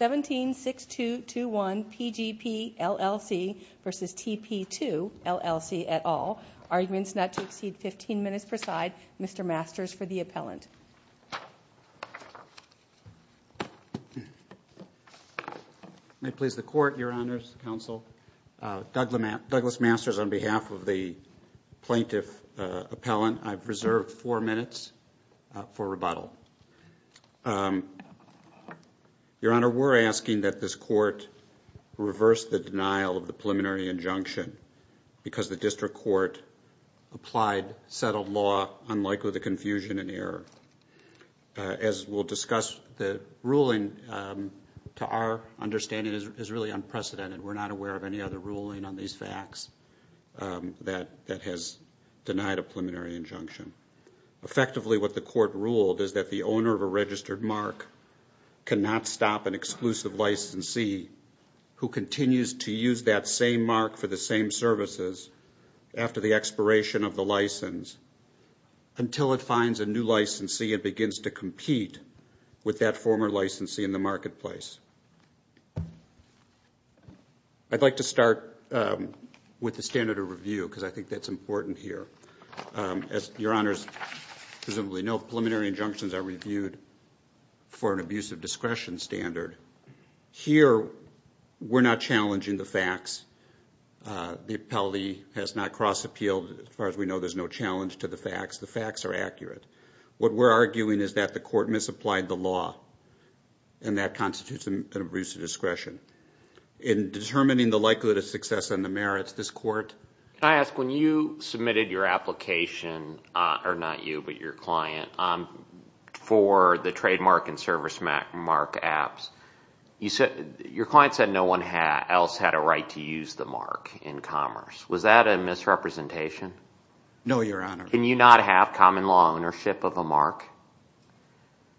17-6221 PGP LLC versus TPII LLC at all. Arguments not to exceed 15 minutes per side. Mr. Masters for the appellant. May it please the Court, Your Honors, Counsel. Douglas Masters on behalf of the plaintiff appellant. I've reserved four minutes for rebuttal. Your Honor, we're asking that this Court reverse the denial of the preliminary injunction because the district court applied settled law unlikely to confusion and error. As we'll discuss, the ruling to our understanding is really unprecedented. We're not aware of any other ruling on these facts that has denied a preliminary injunction. Effectively, what the Court ruled is that the owner of a registered mark cannot stop an exclusive licensee who continues to use that same mark for the same services after the expiration of the license until it finds a new licensee and begins to compete with that former licensee in the marketplace. I'd like to start with the standard of review because I think that's important here. As Your Honors presumably know, preliminary injunctions are reviewed for an abuse of discretion standard. Here, we're not challenging the facts. The appellee has not cross-appealed. As far as we know, there's no challenge to the facts. The facts are accurate. What we're arguing is that the Court misapplied the law, and that constitutes an abuse of discretion. In determining the likelihood of success and the merits, this Court Can I ask, when you submitted your application, or not you but your client, for the trademark and service mark apps, your client said no one else had a right to use the mark in commerce. Was that a misrepresentation? No, Your Honor. Can you not have common law ownership of a mark?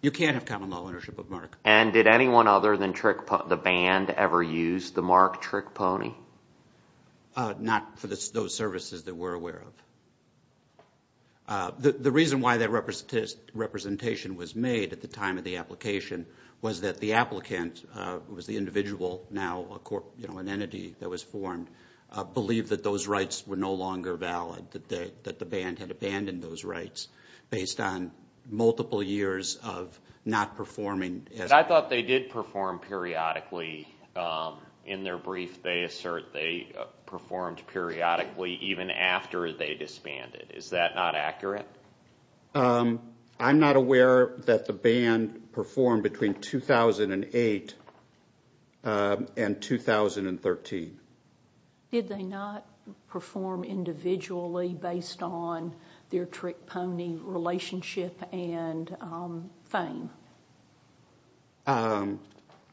You can't have common law ownership of a mark. And did anyone other than the band ever use the mark Trick Pony? Not for those services that we're aware of. The reason why that representation was made at the time of the application was that the applicant was the individual, now an entity that was formed, believed that those rights were no longer valid, that the band had abandoned those rights based on multiple years of not performing. I thought they did perform periodically. In their brief, they assert they performed periodically even after they disbanded. Is that not accurate? I'm not aware that the band performed between 2008 and 2013. Did they not perform individually based on their Trick Pony relationship and fame?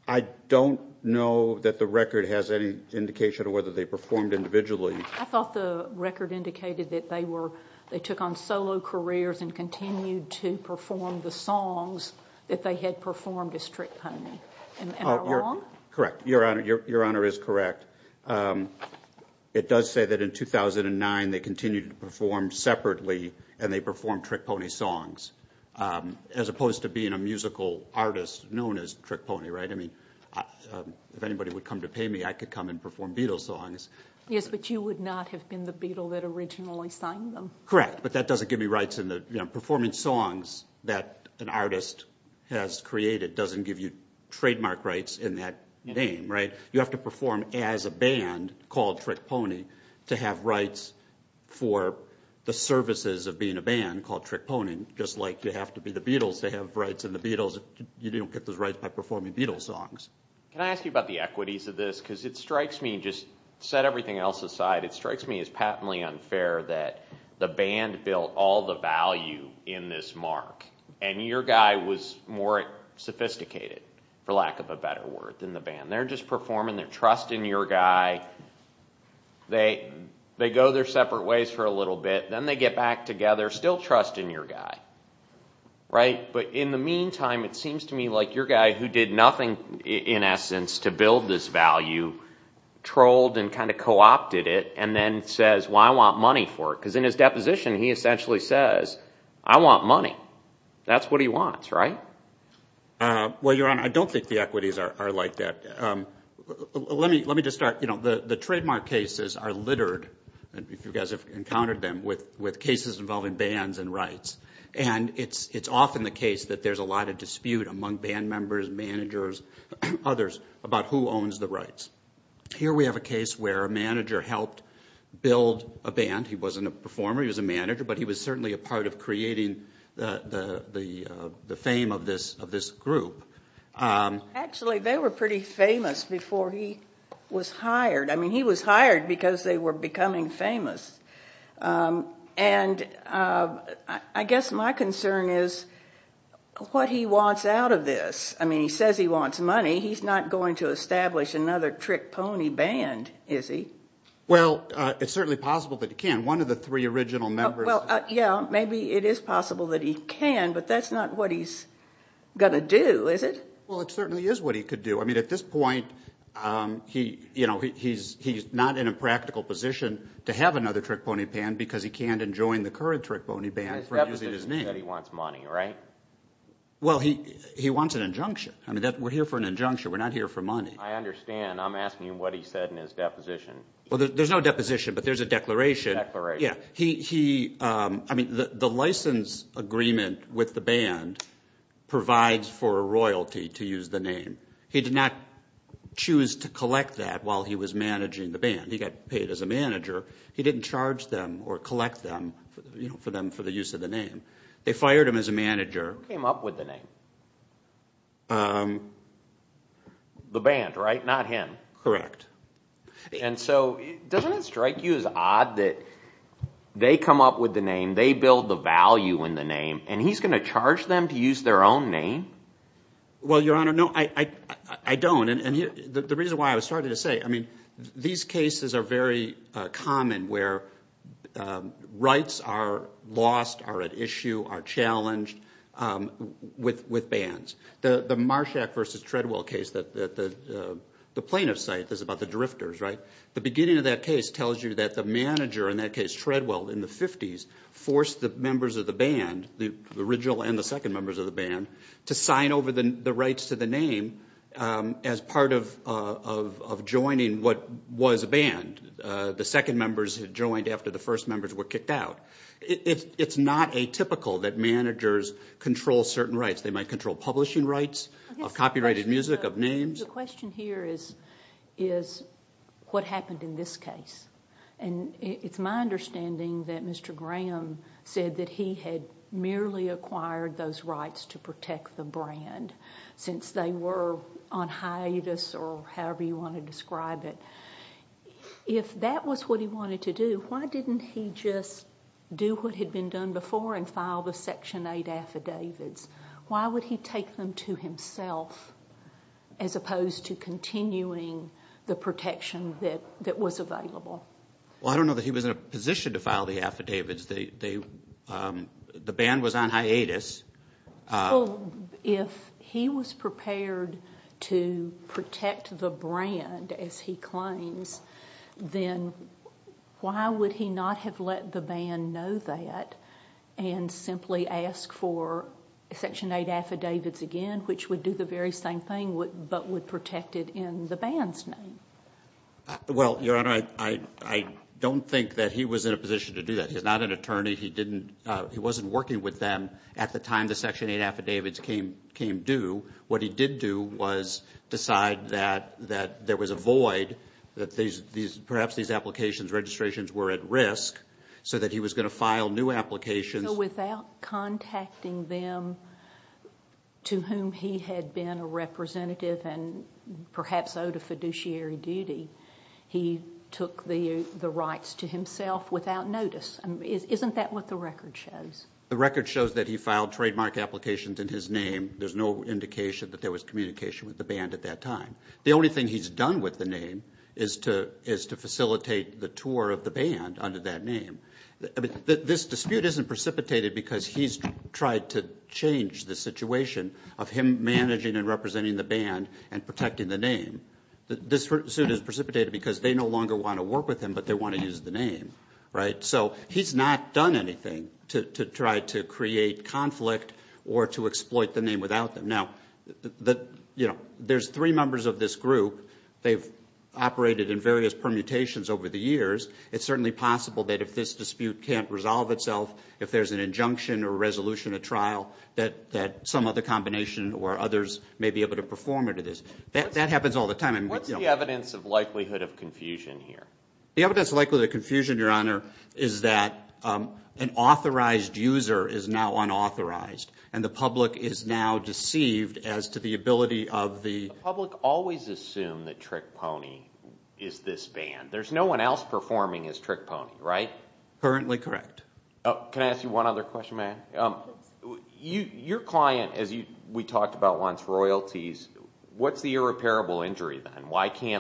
I don't know that the record has any indication of whether they performed individually. I thought the record indicated that they took on solo careers and continued to perform the songs that they had performed as Trick Pony. Am I wrong? Correct. Your Honor is correct. It does say that in 2009 they continued to perform separately and they performed Trick Pony songs as opposed to being a musical artist known as Trick Pony. If anybody would come to pay me, I could come and perform Beatles songs. Yes, but you would not have been the Beatle that originally signed them. Correct, but that doesn't give me rights. Performing songs that an artist has created doesn't give you trademark rights in that name. You have to perform as a band called Trick Pony to have rights for the services of being a band called Trick Pony. Just like you have to be the Beatles to have rights in the Beatles. You don't get those rights by performing Beatles songs. Can I ask you about the equities of this? It strikes me as patently unfair that the band built all the value in this mark and your guy was more sophisticated, for lack of a better word, than the band. They're just performing. They're trusting your guy. They go their separate ways for a little bit. Then they get back together, still trusting your guy. But in the meantime, it seems to me like your guy, who did nothing in essence to build this value, trolled and kind of co-opted it and then says, well, I want money for it. Because in his deposition, he essentially says, I want money. That's what he wants, right? Well, Your Honor, I don't think the equities are like that. Let me just start. The trademark cases are littered, if you guys have encountered them, with cases involving bands and rights. It's often the case that there's a lot of dispute among band members, managers, others, about who owns the rights. Here we have a case where a manager helped build a band. He wasn't a performer. He was a manager. But he was certainly a part of creating the fame of this group. Actually, they were pretty famous before he was hired. I mean, he was hired because they were becoming famous. And I guess my concern is what he wants out of this. I mean, he says he wants money. He's not going to establish another trick pony band, is he? Well, it's certainly possible that he can. One of the three original members. Well, yeah, maybe it is possible that he can, but that's not what he's going to do, is it? Well, it certainly is what he could do. I mean, at this point, he's not in a practical position to have another trick pony band because he can't enjoin the current trick pony band. His deposition said he wants money, right? Well, he wants an injunction. I mean, we're here for an injunction. We're not here for money. I understand. I'm asking him what he said in his deposition. Well, there's no deposition, but there's a declaration. Declaration. Yeah. I mean, the license agreement with the band provides for a royalty, to use the name. He did not choose to collect that while he was managing the band. He got paid as a manager. He didn't charge them or collect them for the use of the name. They fired him as a manager. Who came up with the name? The band, right? Not him. Correct. And so doesn't it strike you as odd that they come up with the name, they build the value in the name, and he's going to charge them to use their own name? Well, Your Honor, no, I don't. And the reason why I was starting to say, I mean, these cases are very common where rights are lost, are at issue, are challenged with bands. The Marshak v. Treadwell case that the plaintiff cites is about the drifters, right? The beginning of that case tells you that the manager in that case, Treadwell, in the 50s, forced the members of the band, the original and the second members of the band, to sign over the rights to the name as part of joining what was a band. The second members had joined after the first members were kicked out. It's not atypical that managers control certain rights. They might control publishing rights of copyrighted music, of names. The question here is what happened in this case. And it's my understanding that Mr. Graham said that he had merely acquired those rights to protect the brand since they were on hiatus or however you want to describe it. If that was what he wanted to do, why didn't he just do what had been done before and file the Section 8 affidavits? Why would he take them to himself as opposed to continuing the protection that was available? Well, I don't know that he was in a position to file the affidavits. The band was on hiatus. Well, if he was prepared to protect the brand, as he claims, then why would he not have let the band know that and simply ask for Section 8 affidavits again, which would do the very same thing but would protect it in the band's name? Well, Your Honor, I don't think that he was in a position to do that. He's not an attorney. He wasn't working with them at the time the Section 8 affidavits came due. What he did do was decide that there was a void, that perhaps these applications, registrations were at risk, so that he was going to file new applications. So without contacting them, to whom he had been a representative and perhaps owed a fiduciary duty, he took the rights to himself without notice. Isn't that what the record shows? The record shows that he filed trademark applications in his name. There's no indication that there was communication with the band at that time. The only thing he's done with the name is to facilitate the tour of the band under that name. This dispute isn't precipitated because he's tried to change the situation of him managing and representing the band and protecting the name. This suit is precipitated because they no longer want to work with him, but they want to use the name, right? So he's not done anything to try to create conflict or to exploit the name without them. Now, you know, there's three members of this group. They've operated in various permutations over the years. It's certainly possible that if this dispute can't resolve itself, if there's an injunction or resolution, a trial, that some other combination or others may be able to perform it. That happens all the time. What's the evidence of likelihood of confusion here? The evidence of likelihood of confusion, Your Honor, is that an authorized user is now unauthorized, and the public is now deceived as to the ability of the— The public always assumed that Trick Pony is this band. There's no one else performing as Trick Pony, right? Can I ask you one other question, ma'am? Your client, as we talked about once, royalties. What's the irreparable injury then?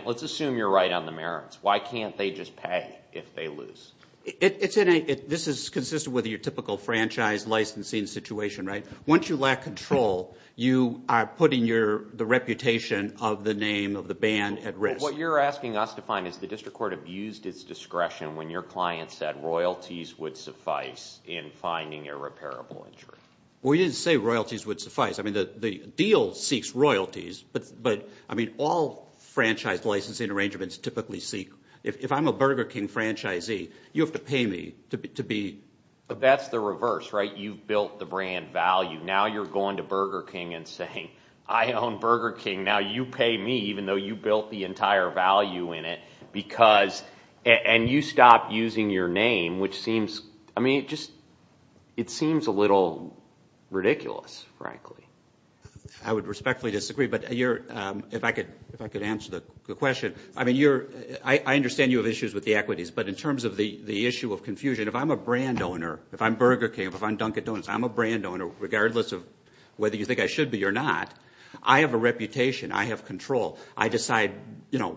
Let's assume you're right on the merits. Why can't they just pay if they lose? This is consistent with your typical franchise licensing situation, right? Once you lack control, you are putting the reputation of the name of the band at risk. What you're asking us to find is the district court abused its discretion when your client said royalties would suffice in finding irreparable injury. We didn't say royalties would suffice. The deal seeks royalties, but all franchise licensing arrangements typically seek— If I'm a Burger King franchisee, you have to pay me to be— That's the reverse, right? You've built the brand value. Now you're going to Burger King and saying, I own Burger King. Now you pay me even though you built the entire value in it because— And you stop using your name, which seems— I mean, it just seems a little ridiculous, frankly. I would respectfully disagree, but if I could answer the question. I mean, I understand you have issues with the equities, but in terms of the issue of confusion, if I'm a brand owner, if I'm Burger King, if I'm Dunkin' Donuts, I'm a brand owner regardless of whether you think I should be or not. I have a reputation. I have control. I decide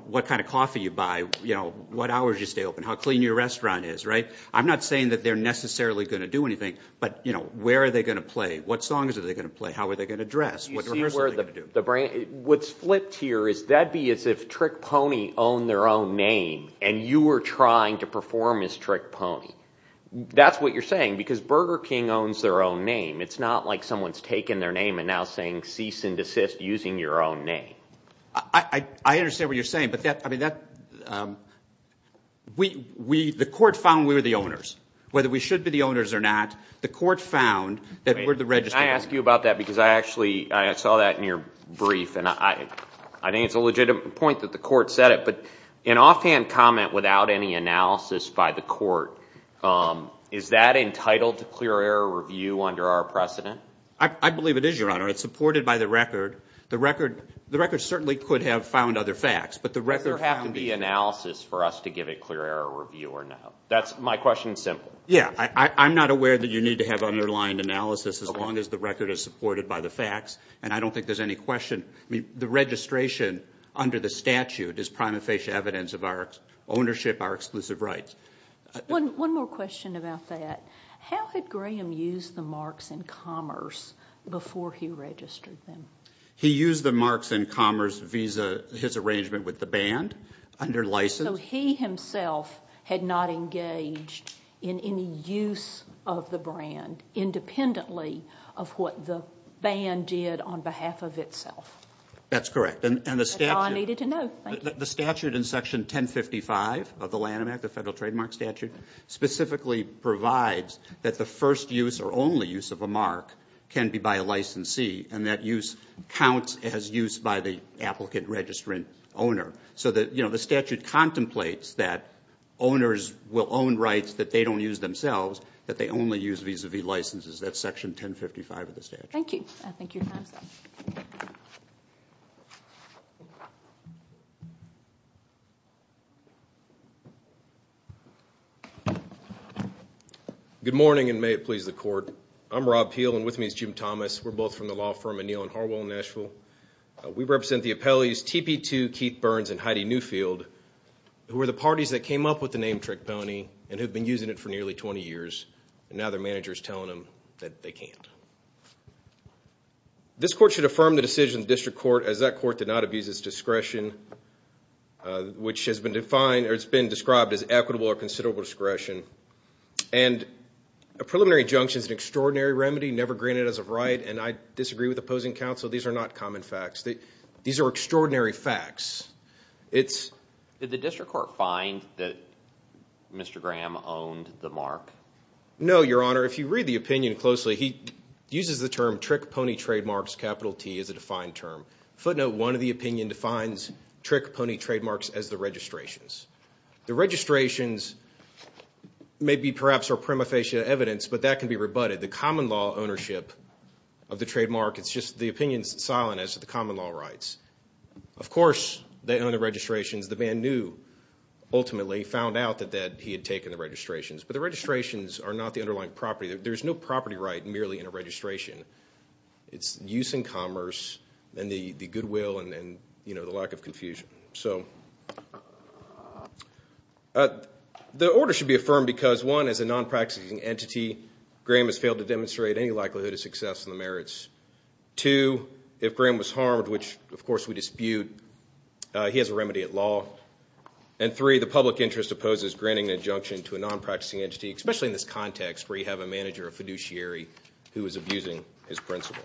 what kind of coffee you buy, what hours you stay open, how clean your restaurant is. I'm not saying that they're necessarily going to do anything, but where are they going to play? What songs are they going to play? How are they going to dress? What rehearsal are they going to do? What's flipped here is that'd be as if Trick Pony owned their own name, and you were trying to perform as Trick Pony. That's what you're saying, because Burger King owns their own name. It's not like someone's taken their name and now saying cease and desist using your own name. I understand what you're saying, but that—I mean, that—we—the court found we were the owners. Whether we should be the owners or not, the court found that we're the registered owners. Can I ask you about that? Because I actually saw that in your brief, and I think it's a legitimate point that the court said it, but an offhand comment without any analysis by the court, is that entitled to clear error review under our precedent? I believe it is, Your Honor. It's supported by the record. The record certainly could have found other facts, but the record found— Does there have to be analysis for us to give a clear error review or not? That's—my question is simple. Yeah, I'm not aware that you need to have underlying analysis as long as the record is supported by the facts, and I don't think there's any question. I mean, the registration under the statute is prima facie evidence of our ownership, our exclusive rights. One more question about that. How had Graham used the marks in commerce before he registered them? He used the marks in commerce via his arrangement with the band under license. So he himself had not engaged in any use of the brand independently of what the band did on behalf of itself? That's correct. That's all I needed to know. Thank you. The statute in Section 1055 of the Lanham Act, the Federal Trademark Statute, specifically provides that the first use or only use of a mark can be by a licensee, and that use counts as use by the applicant registering owner. So that, you know, the statute contemplates that owners will own rights that they don't use themselves, that they only use vis-a-vis licenses. That's Section 1055 of the statute. Thank you. Good morning, and may it please the Court. I'm Rob Peel, and with me is Jim Thomas. We're both from the law firm O'Neill in Harwell, Nashville. We represent the appellees TP2, Keith Burns, and Heidi Newfield, who were the parties that came up with the name Trick Pony and have been using it for nearly 20 years, and now their manager is telling them that they can't. This Court should affirm the decision of the District Court, as that Court did not abuse its discretion, which has been described as equitable or considerable discretion. And a preliminary injunction is an extraordinary remedy never granted as a right, and I disagree with opposing counsel. These are not common facts. These are extraordinary facts. Did the District Court find that Mr. Graham owned the mark? No, Your Honor. If you read the opinion closely, he uses the term Trick Pony Trademarks, capital T, as a defined term. Footnote 1 of the opinion defines Trick Pony Trademarks as the registrations. The registrations may be perhaps a prima facie evidence, but that can be rebutted. The common law ownership of the trademark, it's just the opinion is silent as to the common law rights. Of course they own the registrations. The man knew ultimately, found out that he had taken the registrations. But the registrations are not the underlying property. There's no property right merely in a registration. It's use in commerce and the goodwill and, you know, the lack of confusion. The order should be affirmed because, one, as a non-practicing entity, Graham has failed to demonstrate any likelihood of success in the merits. Two, if Graham was harmed, which of course we dispute, he has a remedy at law. And three, the public interest opposes granting an injunction to a non-practicing entity, especially in this context where you have a manager, a fiduciary who is abusing his principle.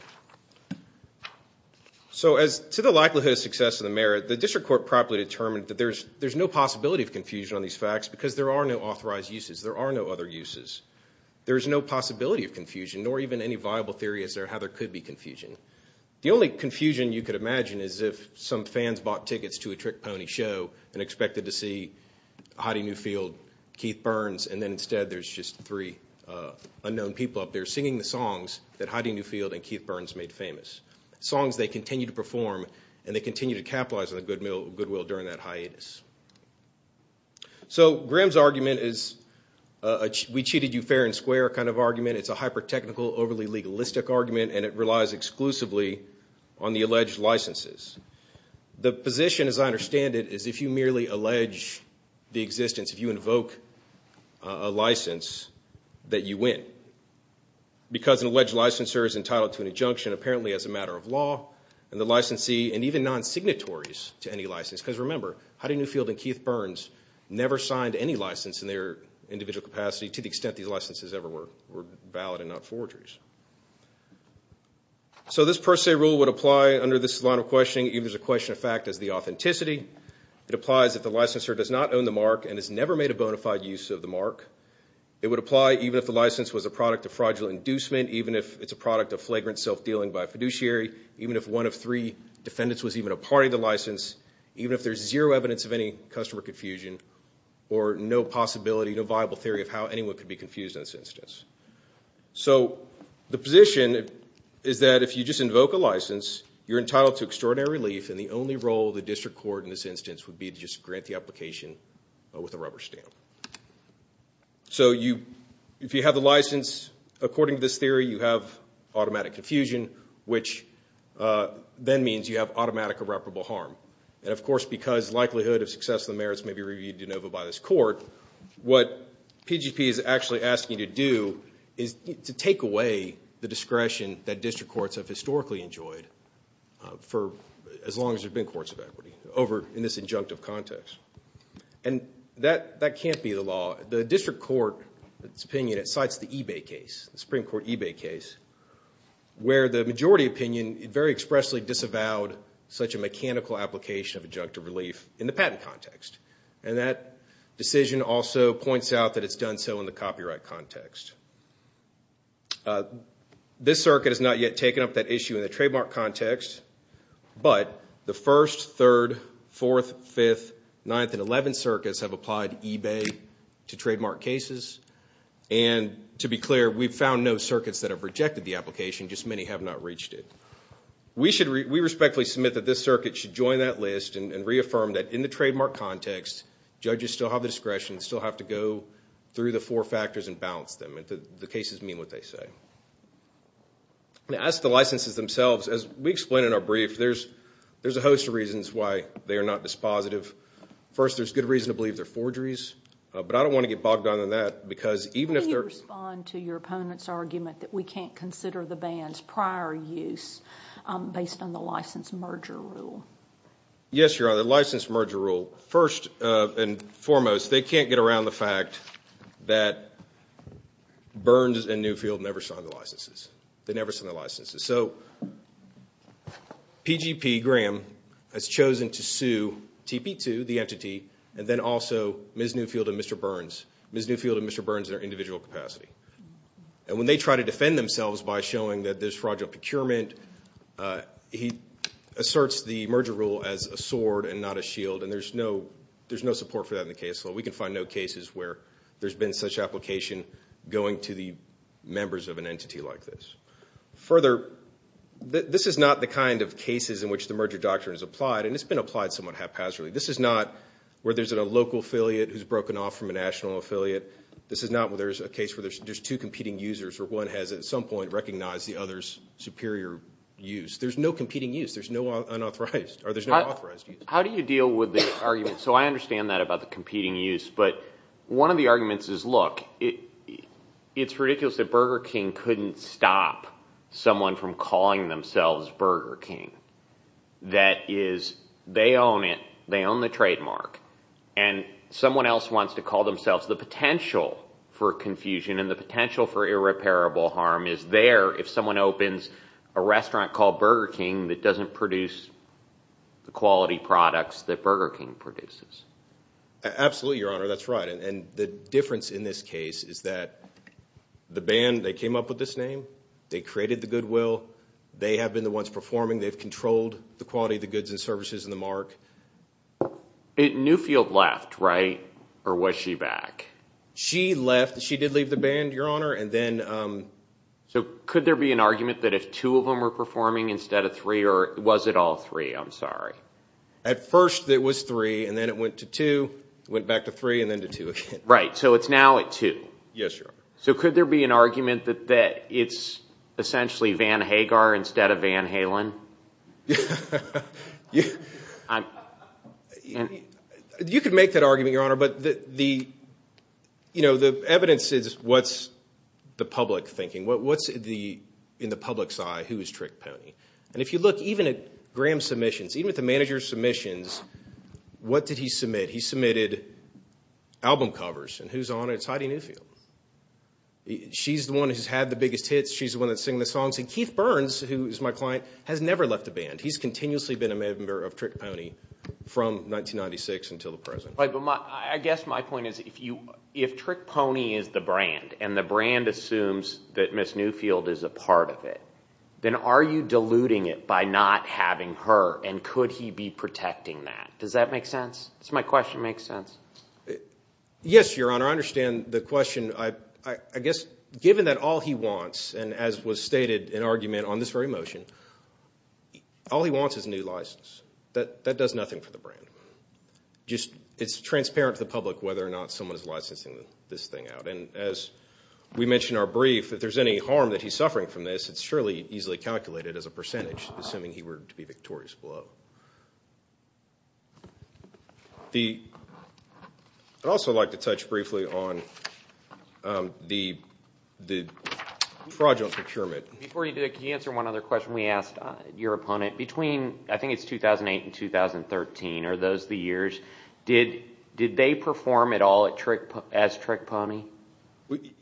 So as to the likelihood of success in the merit, the District Court properly determined that there's no possibility of confusion on these facts because there are no authorized uses. There are no other uses. There's no possibility of confusion, nor even any viable theory as to how there could be confusion. The only confusion you could imagine is if some fans bought tickets to a trick pony show and expected to see Heidi Newfield, Keith Burns, and then instead there's just three unknown people up there singing the songs that Heidi Newfield and Keith Burns made famous, songs they continue to perform and they continue to capitalize on the goodwill during that hiatus. So Graham's argument is a we-cheated-you-fair-and-square kind of argument. It's a hyper-technical, overly-legalistic argument, and it relies exclusively on the alleged licenses. The position, as I understand it, is if you merely allege the existence, if you invoke a license, that you win. Because an alleged licensure is entitled to an injunction, apparently as a matter of law, and the licensee, and even non-signatories to any license. Because remember, Heidi Newfield and Keith Burns never signed any license in their individual capacity to the extent these licenses ever were valid and not forgeries. So this per se rule would apply under this line of questioning, even if there's a question of fact, as the authenticity. It applies if the licensor does not own the mark and has never made a bona fide use of the mark. It would apply even if the license was a product of fraudulent inducement, even if it's a product of flagrant self-dealing by a fiduciary, even if one of three defendants was even a party to the license, even if there's zero evidence of any customer confusion or no possibility, no viable theory of how anyone could be confused in this instance. So the position is that if you just invoke a license, you're entitled to extraordinary relief, and the only role of the district court in this instance would be to just grant the application with a rubber stamp. So if you have the license, according to this theory, you have automatic confusion, which then means you have automatic irreparable harm. And, of course, because likelihood of success of the merits may be reviewed de novo by this court, what PGP is actually asking you to do is to take away the discretion that district courts have historically enjoyed for as long as there have been courts of equity over in this injunctive context. And that can't be the law. The district court, in its opinion, it cites the Ebay case, the Supreme Court Ebay case, where the majority opinion very expressly disavowed such a mechanical application of injunctive relief in the patent context. And that decision also points out that it's done so in the copyright context. This circuit has not yet taken up that issue in the trademark context, but the 1st, 3rd, 4th, 5th, 9th, and 11th circuits have applied Ebay to trademark cases. And to be clear, we've found no circuits that have rejected the application, just many have not reached it. We respectfully submit that this circuit should join that list and reaffirm that in the trademark context, judges still have the discretion, still have to go through the four factors and balance them, and the cases mean what they say. As to licenses themselves, as we explain in our brief, there's a host of reasons why they are not dispositive. First, there's good reason to believe they're forgeries. But I don't want to get bogged down in that because even if they're- How do you respond to your opponent's argument that we can't consider the ban's prior use based on the license merger rule? Yes, Your Honor, the license merger rule. First and foremost, they can't get around the fact that Burns and Newfield never signed the licenses. They never signed the licenses. So PGP Graham has chosen to sue TP2, the entity, and then also Ms. Newfield and Mr. Burns, Ms. Newfield and Mr. Burns in their individual capacity. And when they try to defend themselves by showing that there's fraudulent procurement, he asserts the merger rule as a sword and not a shield, and there's no support for that in the case law. We can find no cases where there's been such application going to the members of an entity like this. Further, this is not the kind of cases in which the merger doctrine is applied, and it's been applied somewhat haphazardly. This is not where there's a local affiliate who's broken off from a national affiliate. This is not where there's a case where there's two competing users or one has at some point recognized the other's superior use. There's no competing use. There's no unauthorized or there's no authorized use. How do you deal with this argument? So I understand that about the competing use. But one of the arguments is, look, it's ridiculous that Burger King couldn't stop someone from calling themselves Burger King. That is, they own it, they own the trademark, and someone else wants to call themselves the potential for confusion and the potential for irreparable harm is there if someone opens a restaurant called Burger King that doesn't produce the quality products that Burger King produces. Absolutely, Your Honor. That's right. And the difference in this case is that the band, they came up with this name. They created the goodwill. They have been the ones performing. They've controlled the quality of the goods and services and the mark. Newfield left, right? Or was she back? She left. She did leave the band, Your Honor. So could there be an argument that if two of them were performing instead of three, or was it all three? I'm sorry. At first it was three, and then it went to two, went back to three, and then to two again. Right, so it's now at two. Yes, Your Honor. So could there be an argument that it's essentially Van Hagar instead of Van Halen? You could make that argument, Your Honor, but the evidence is what's the public thinking. What's in the public's eye who is Trick Pony? And if you look even at Graham's submissions, even at the manager's submissions, what did he submit? He submitted album covers, and who's on it? It's Heidi Newfield. She's the one who's had the biggest hits. She's the one that's singing the songs. And Keith Burns, who is my client, has never left the band. He's continuously been a member of Trick Pony from 1996 until the present. I guess my point is if Trick Pony is the brand, and the brand assumes that Miss Newfield is a part of it, then are you diluting it by not having her, and could he be protecting that? Does that make sense? Does my question make sense? Yes, Your Honor. I understand the question. I guess given that all he wants, and as was stated in argument on this very motion, all he wants is a new license. That does nothing for the brand. It's transparent to the public whether or not someone is licensing this thing out. And as we mentioned in our brief, if there's any harm that he's suffering from this, it's surely easily calculated as a percentage, assuming he were to be victorious below. I'd also like to touch briefly on the fraudulent procurement. Before you do that, could you answer one other question we asked your opponent? I think it's 2008 and 2013 are those the years. Did they perform at all as Trick Pony?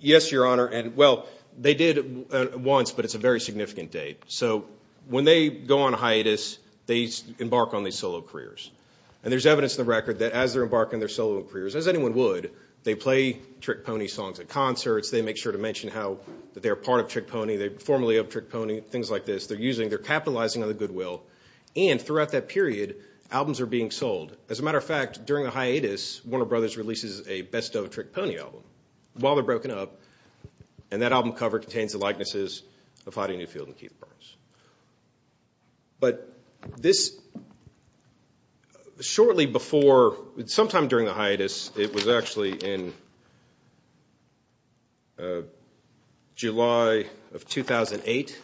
Yes, Your Honor. Well, they did once, but it's a very significant date. So when they go on a hiatus, they embark on these solo careers. And there's evidence in the record that as they're embarking on their solo careers, as anyone would, they play Trick Pony songs at concerts. They make sure to mention how they're a part of Trick Pony. They formerly helped Trick Pony, things like this. They're using, they're capitalizing on the goodwill. And throughout that period, albums are being sold. As a matter of fact, during the hiatus, Warner Brothers releases a best-of Trick Pony album. While they're broken up, and that album cover contains the likenesses of Heidi Newfield and Keith Burns. But this shortly before, sometime during the hiatus, it was actually in July of 2008.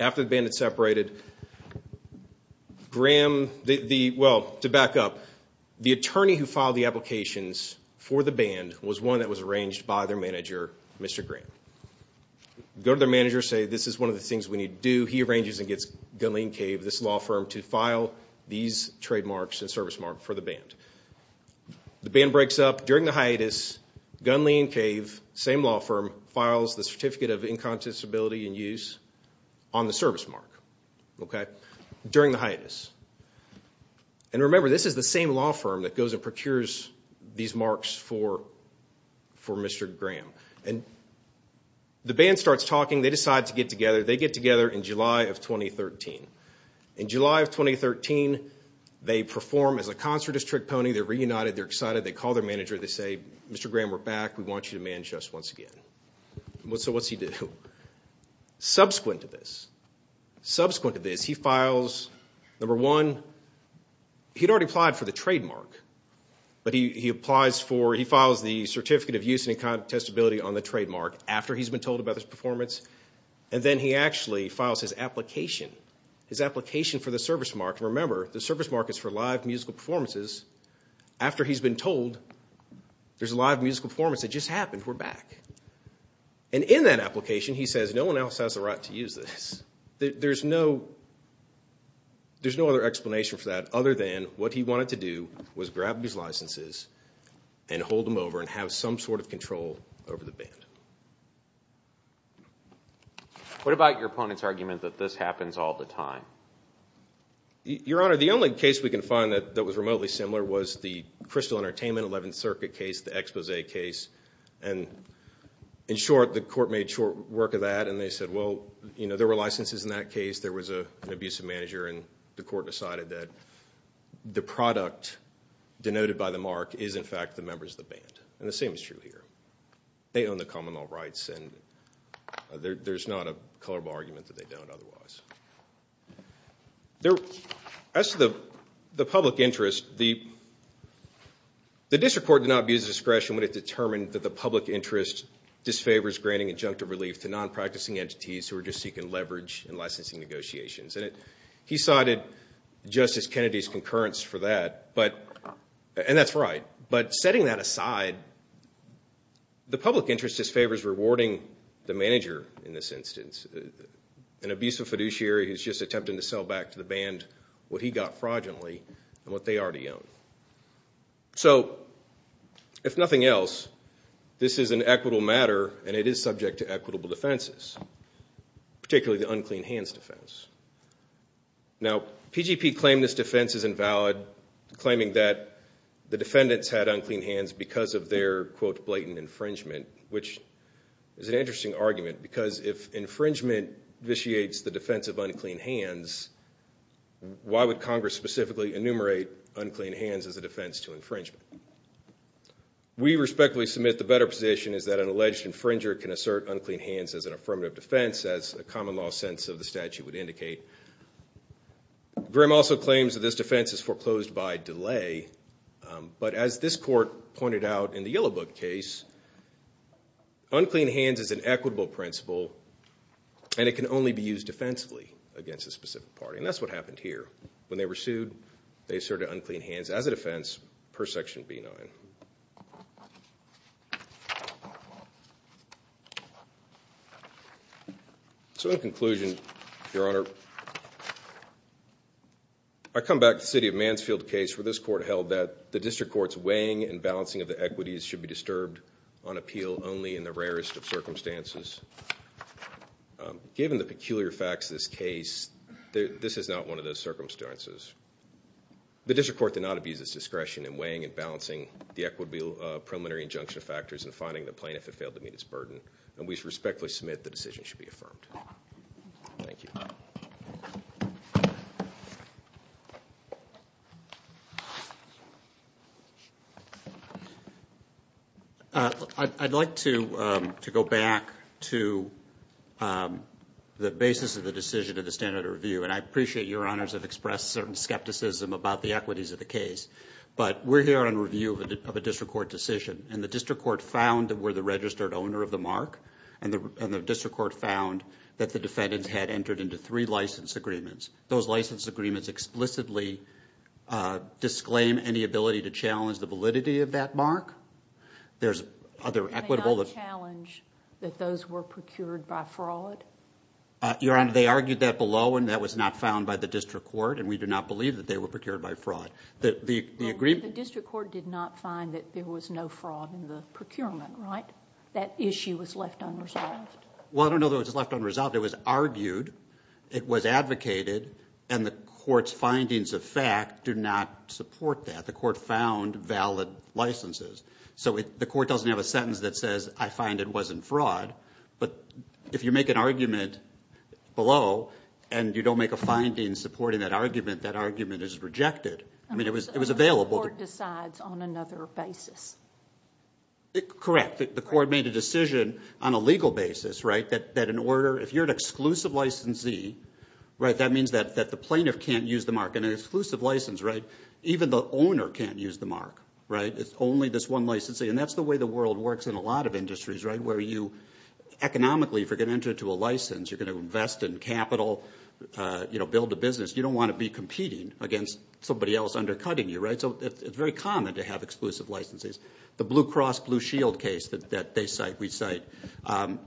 After the band had separated, Graham, well, to back up, the attorney who filed the applications for the band was one that was arranged by their manager, Mr. Graham. Go to their manager and say, this is one of the things we need to do. He arranges and gets Gunley & Cave, this law firm, to file these trademarks and service marks for the band. The band breaks up. During the hiatus, Gunley & Cave, same law firm, files the Certificate of Inconsistency and Use on the service mark. Okay? During the hiatus. And remember, this is the same law firm that goes and procures these marks for Mr. Graham. And the band starts talking. They decide to get together. They get together in July of 2013. In July of 2013, they perform as a concert-as-trick pony. They're reunited. They're excited. They call their manager. They say, Mr. Graham, we're back. We want you to manage us once again. So what's he do? Subsequent to this, subsequent to this, he files, number one, he'd already applied for the trademark. But he applies for, he files the Certificate of Use and Incontestability on the trademark after he's been told about this performance. And then he actually files his application, his application for the service mark. Remember, the service mark is for live musical performances. After he's been told there's a live musical performance that just happened, we're back. And in that application, he says, no one else has the right to use this. There's no other explanation for that other than what he wanted to do was grab these licenses and hold them over and have some sort of control over the band. What about your opponent's argument that this happens all the time? Your Honor, the only case we can find that was remotely similar was the Crystal Entertainment 11th Circuit case, the expose case. And in short, the court made short work of that, and they said, well, you know, there were licenses in that case. There was an abusive manager, and the court decided that the product denoted by the mark is, in fact, the members of the band. And the same is true here. They own the common law rights, and there's not a colorable argument that they don't otherwise. As to the public interest, the district court did not abuse discretion when it determined that the public interest disfavors granting injunctive relief to non-practicing entities who are just seeking leverage in licensing negotiations. And he cited Justice Kennedy's concurrence for that, and that's right. But setting that aside, the public interest disfavors rewarding the manager in this instance. He's an abusive fiduciary who's just attempting to sell back to the band what he got fraudulently and what they already own. So if nothing else, this is an equitable matter, and it is subject to equitable defenses, particularly the unclean hands defense. Now, PGP claimed this defense is invalid, claiming that the defendants had unclean hands because of their, quote, infringement vitiates the defense of unclean hands. Why would Congress specifically enumerate unclean hands as a defense to infringement? We respectfully submit the better position is that an alleged infringer can assert unclean hands as an affirmative defense, as a common law sense of the statute would indicate. Grimm also claims that this defense is foreclosed by delay. But as this court pointed out in the Yellow Book case, unclean hands is an equitable principle, and it can only be used defensively against a specific party, and that's what happened here. When they were sued, they asserted unclean hands as a defense per Section B9. So in conclusion, Your Honor, I come back to the city of Mansfield case where this court held that the district court's weighing and balancing of the equities should be disturbed on appeal only in the rarest of circumstances. Given the peculiar facts of this case, this is not one of those circumstances. The district court did not abuse its discretion in weighing and balancing the equitable preliminary injunction factors and finding the plaintiff had failed to meet its burden, and we respectfully submit the decision should be affirmed. Thank you. I'd like to go back to the basis of the decision of the standard of review, and I appreciate Your Honors have expressed certain skepticism about the equities of the case. But we're here on review of a district court decision, and the district court found that we're the registered owner of the mark, and the district court found that the defendants had entered into three license agreements. Those license agreements explicitly disclaim any ability to challenge the validity of that mark. There's other equitable... Did they not challenge that those were procured by fraud? Your Honor, they argued that below, and that was not found by the district court, and we do not believe that they were procured by fraud. The district court did not find that there was no fraud in the procurement, right? That issue was left unresolved. Well, I don't know that it was left unresolved. It was argued. It was advocated, and the court's findings of fact do not support that. The court found valid licenses. So the court doesn't have a sentence that says, I find it wasn't fraud. But if you make an argument below and you don't make a finding supporting that argument, that argument is rejected. I mean, it was available. The court decides on another basis. Correct. The court made a decision on a legal basis, right, that in order... If you're an exclusive licensee, right, that means that the plaintiff can't use the mark. In an exclusive license, right, even the owner can't use the mark, right? It's only this one licensee, and that's the way the world works in a lot of industries, right, where you economically, if you're going to enter into a license, you're going to invest in capital, build a business. You don't want to be competing against somebody else undercutting you, right? So it's very common to have exclusive licenses. The Blue Cross Blue Shield case that they cite, we cite,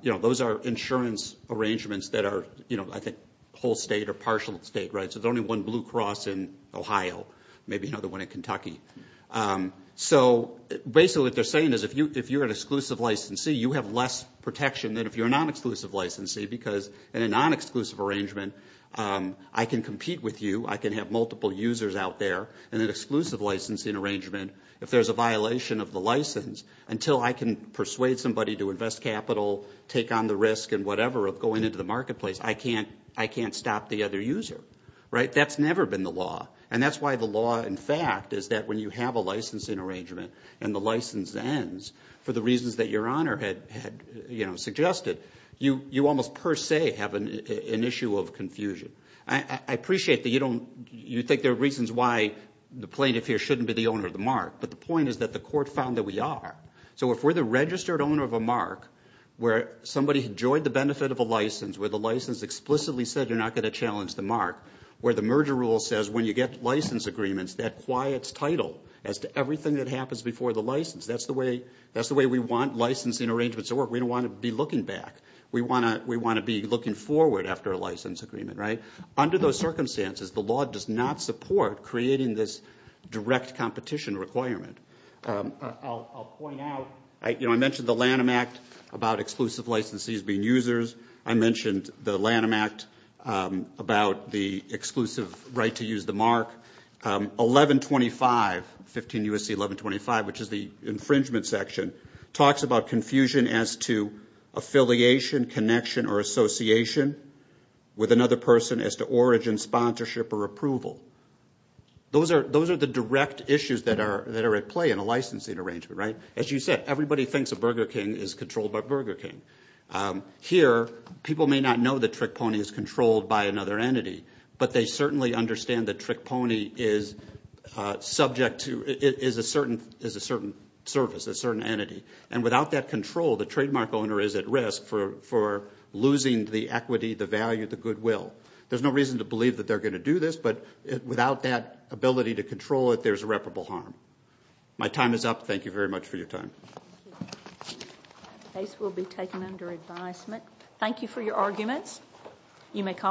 those are insurance arrangements that are, I think, whole state or partial state, right? So there's only one Blue Cross in Ohio, maybe another one in Kentucky. So basically what they're saying is if you're an exclusive licensee, you have less protection than if you're a non-exclusive licensee, because in a non-exclusive arrangement, I can compete with you. I can have multiple users out there. In an exclusive licensing arrangement, if there's a violation of the license, until I can persuade somebody to invest capital, take on the risk and whatever of going into the marketplace, I can't stop the other user, right? That's never been the law. And that's why the law, in fact, is that when you have a licensing arrangement and the license ends for the reasons that Your Honor had suggested, you almost per se have an issue of confusion. I appreciate that you think there are reasons why the plaintiff here shouldn't be the owner of the mark, but the point is that the court found that we are. So if we're the registered owner of a mark where somebody enjoyed the benefit of a license, where the merger rule says when you get license agreements, that quiets title as to everything that happens before the license. That's the way we want licensing arrangements to work. We don't want to be looking back. We want to be looking forward after a license agreement, right? Under those circumstances, the law does not support creating this direct competition requirement. I'll point out, you know, I mentioned the Lanham Act about exclusive licensees being users. I mentioned the Lanham Act about the exclusive right to use the mark. 1125, 15 U.S.C. 1125, which is the infringement section, talks about confusion as to affiliation, connection, or association with another person as to origin, sponsorship, or approval. Those are the direct issues that are at play in a licensing arrangement, right? As you said, everybody thinks a Burger King is controlled by Burger King. Here, people may not know that Trick Pony is controlled by another entity, but they certainly understand that Trick Pony is subject to a certain service, a certain entity. And without that control, the trademark owner is at risk for losing the equity, the value, the goodwill. There's no reason to believe that they're going to do this, but without that ability to control it, there's irreparable harm. My time is up. Thank you very much for your time. The case will be taken under advisement. Thank you for your arguments.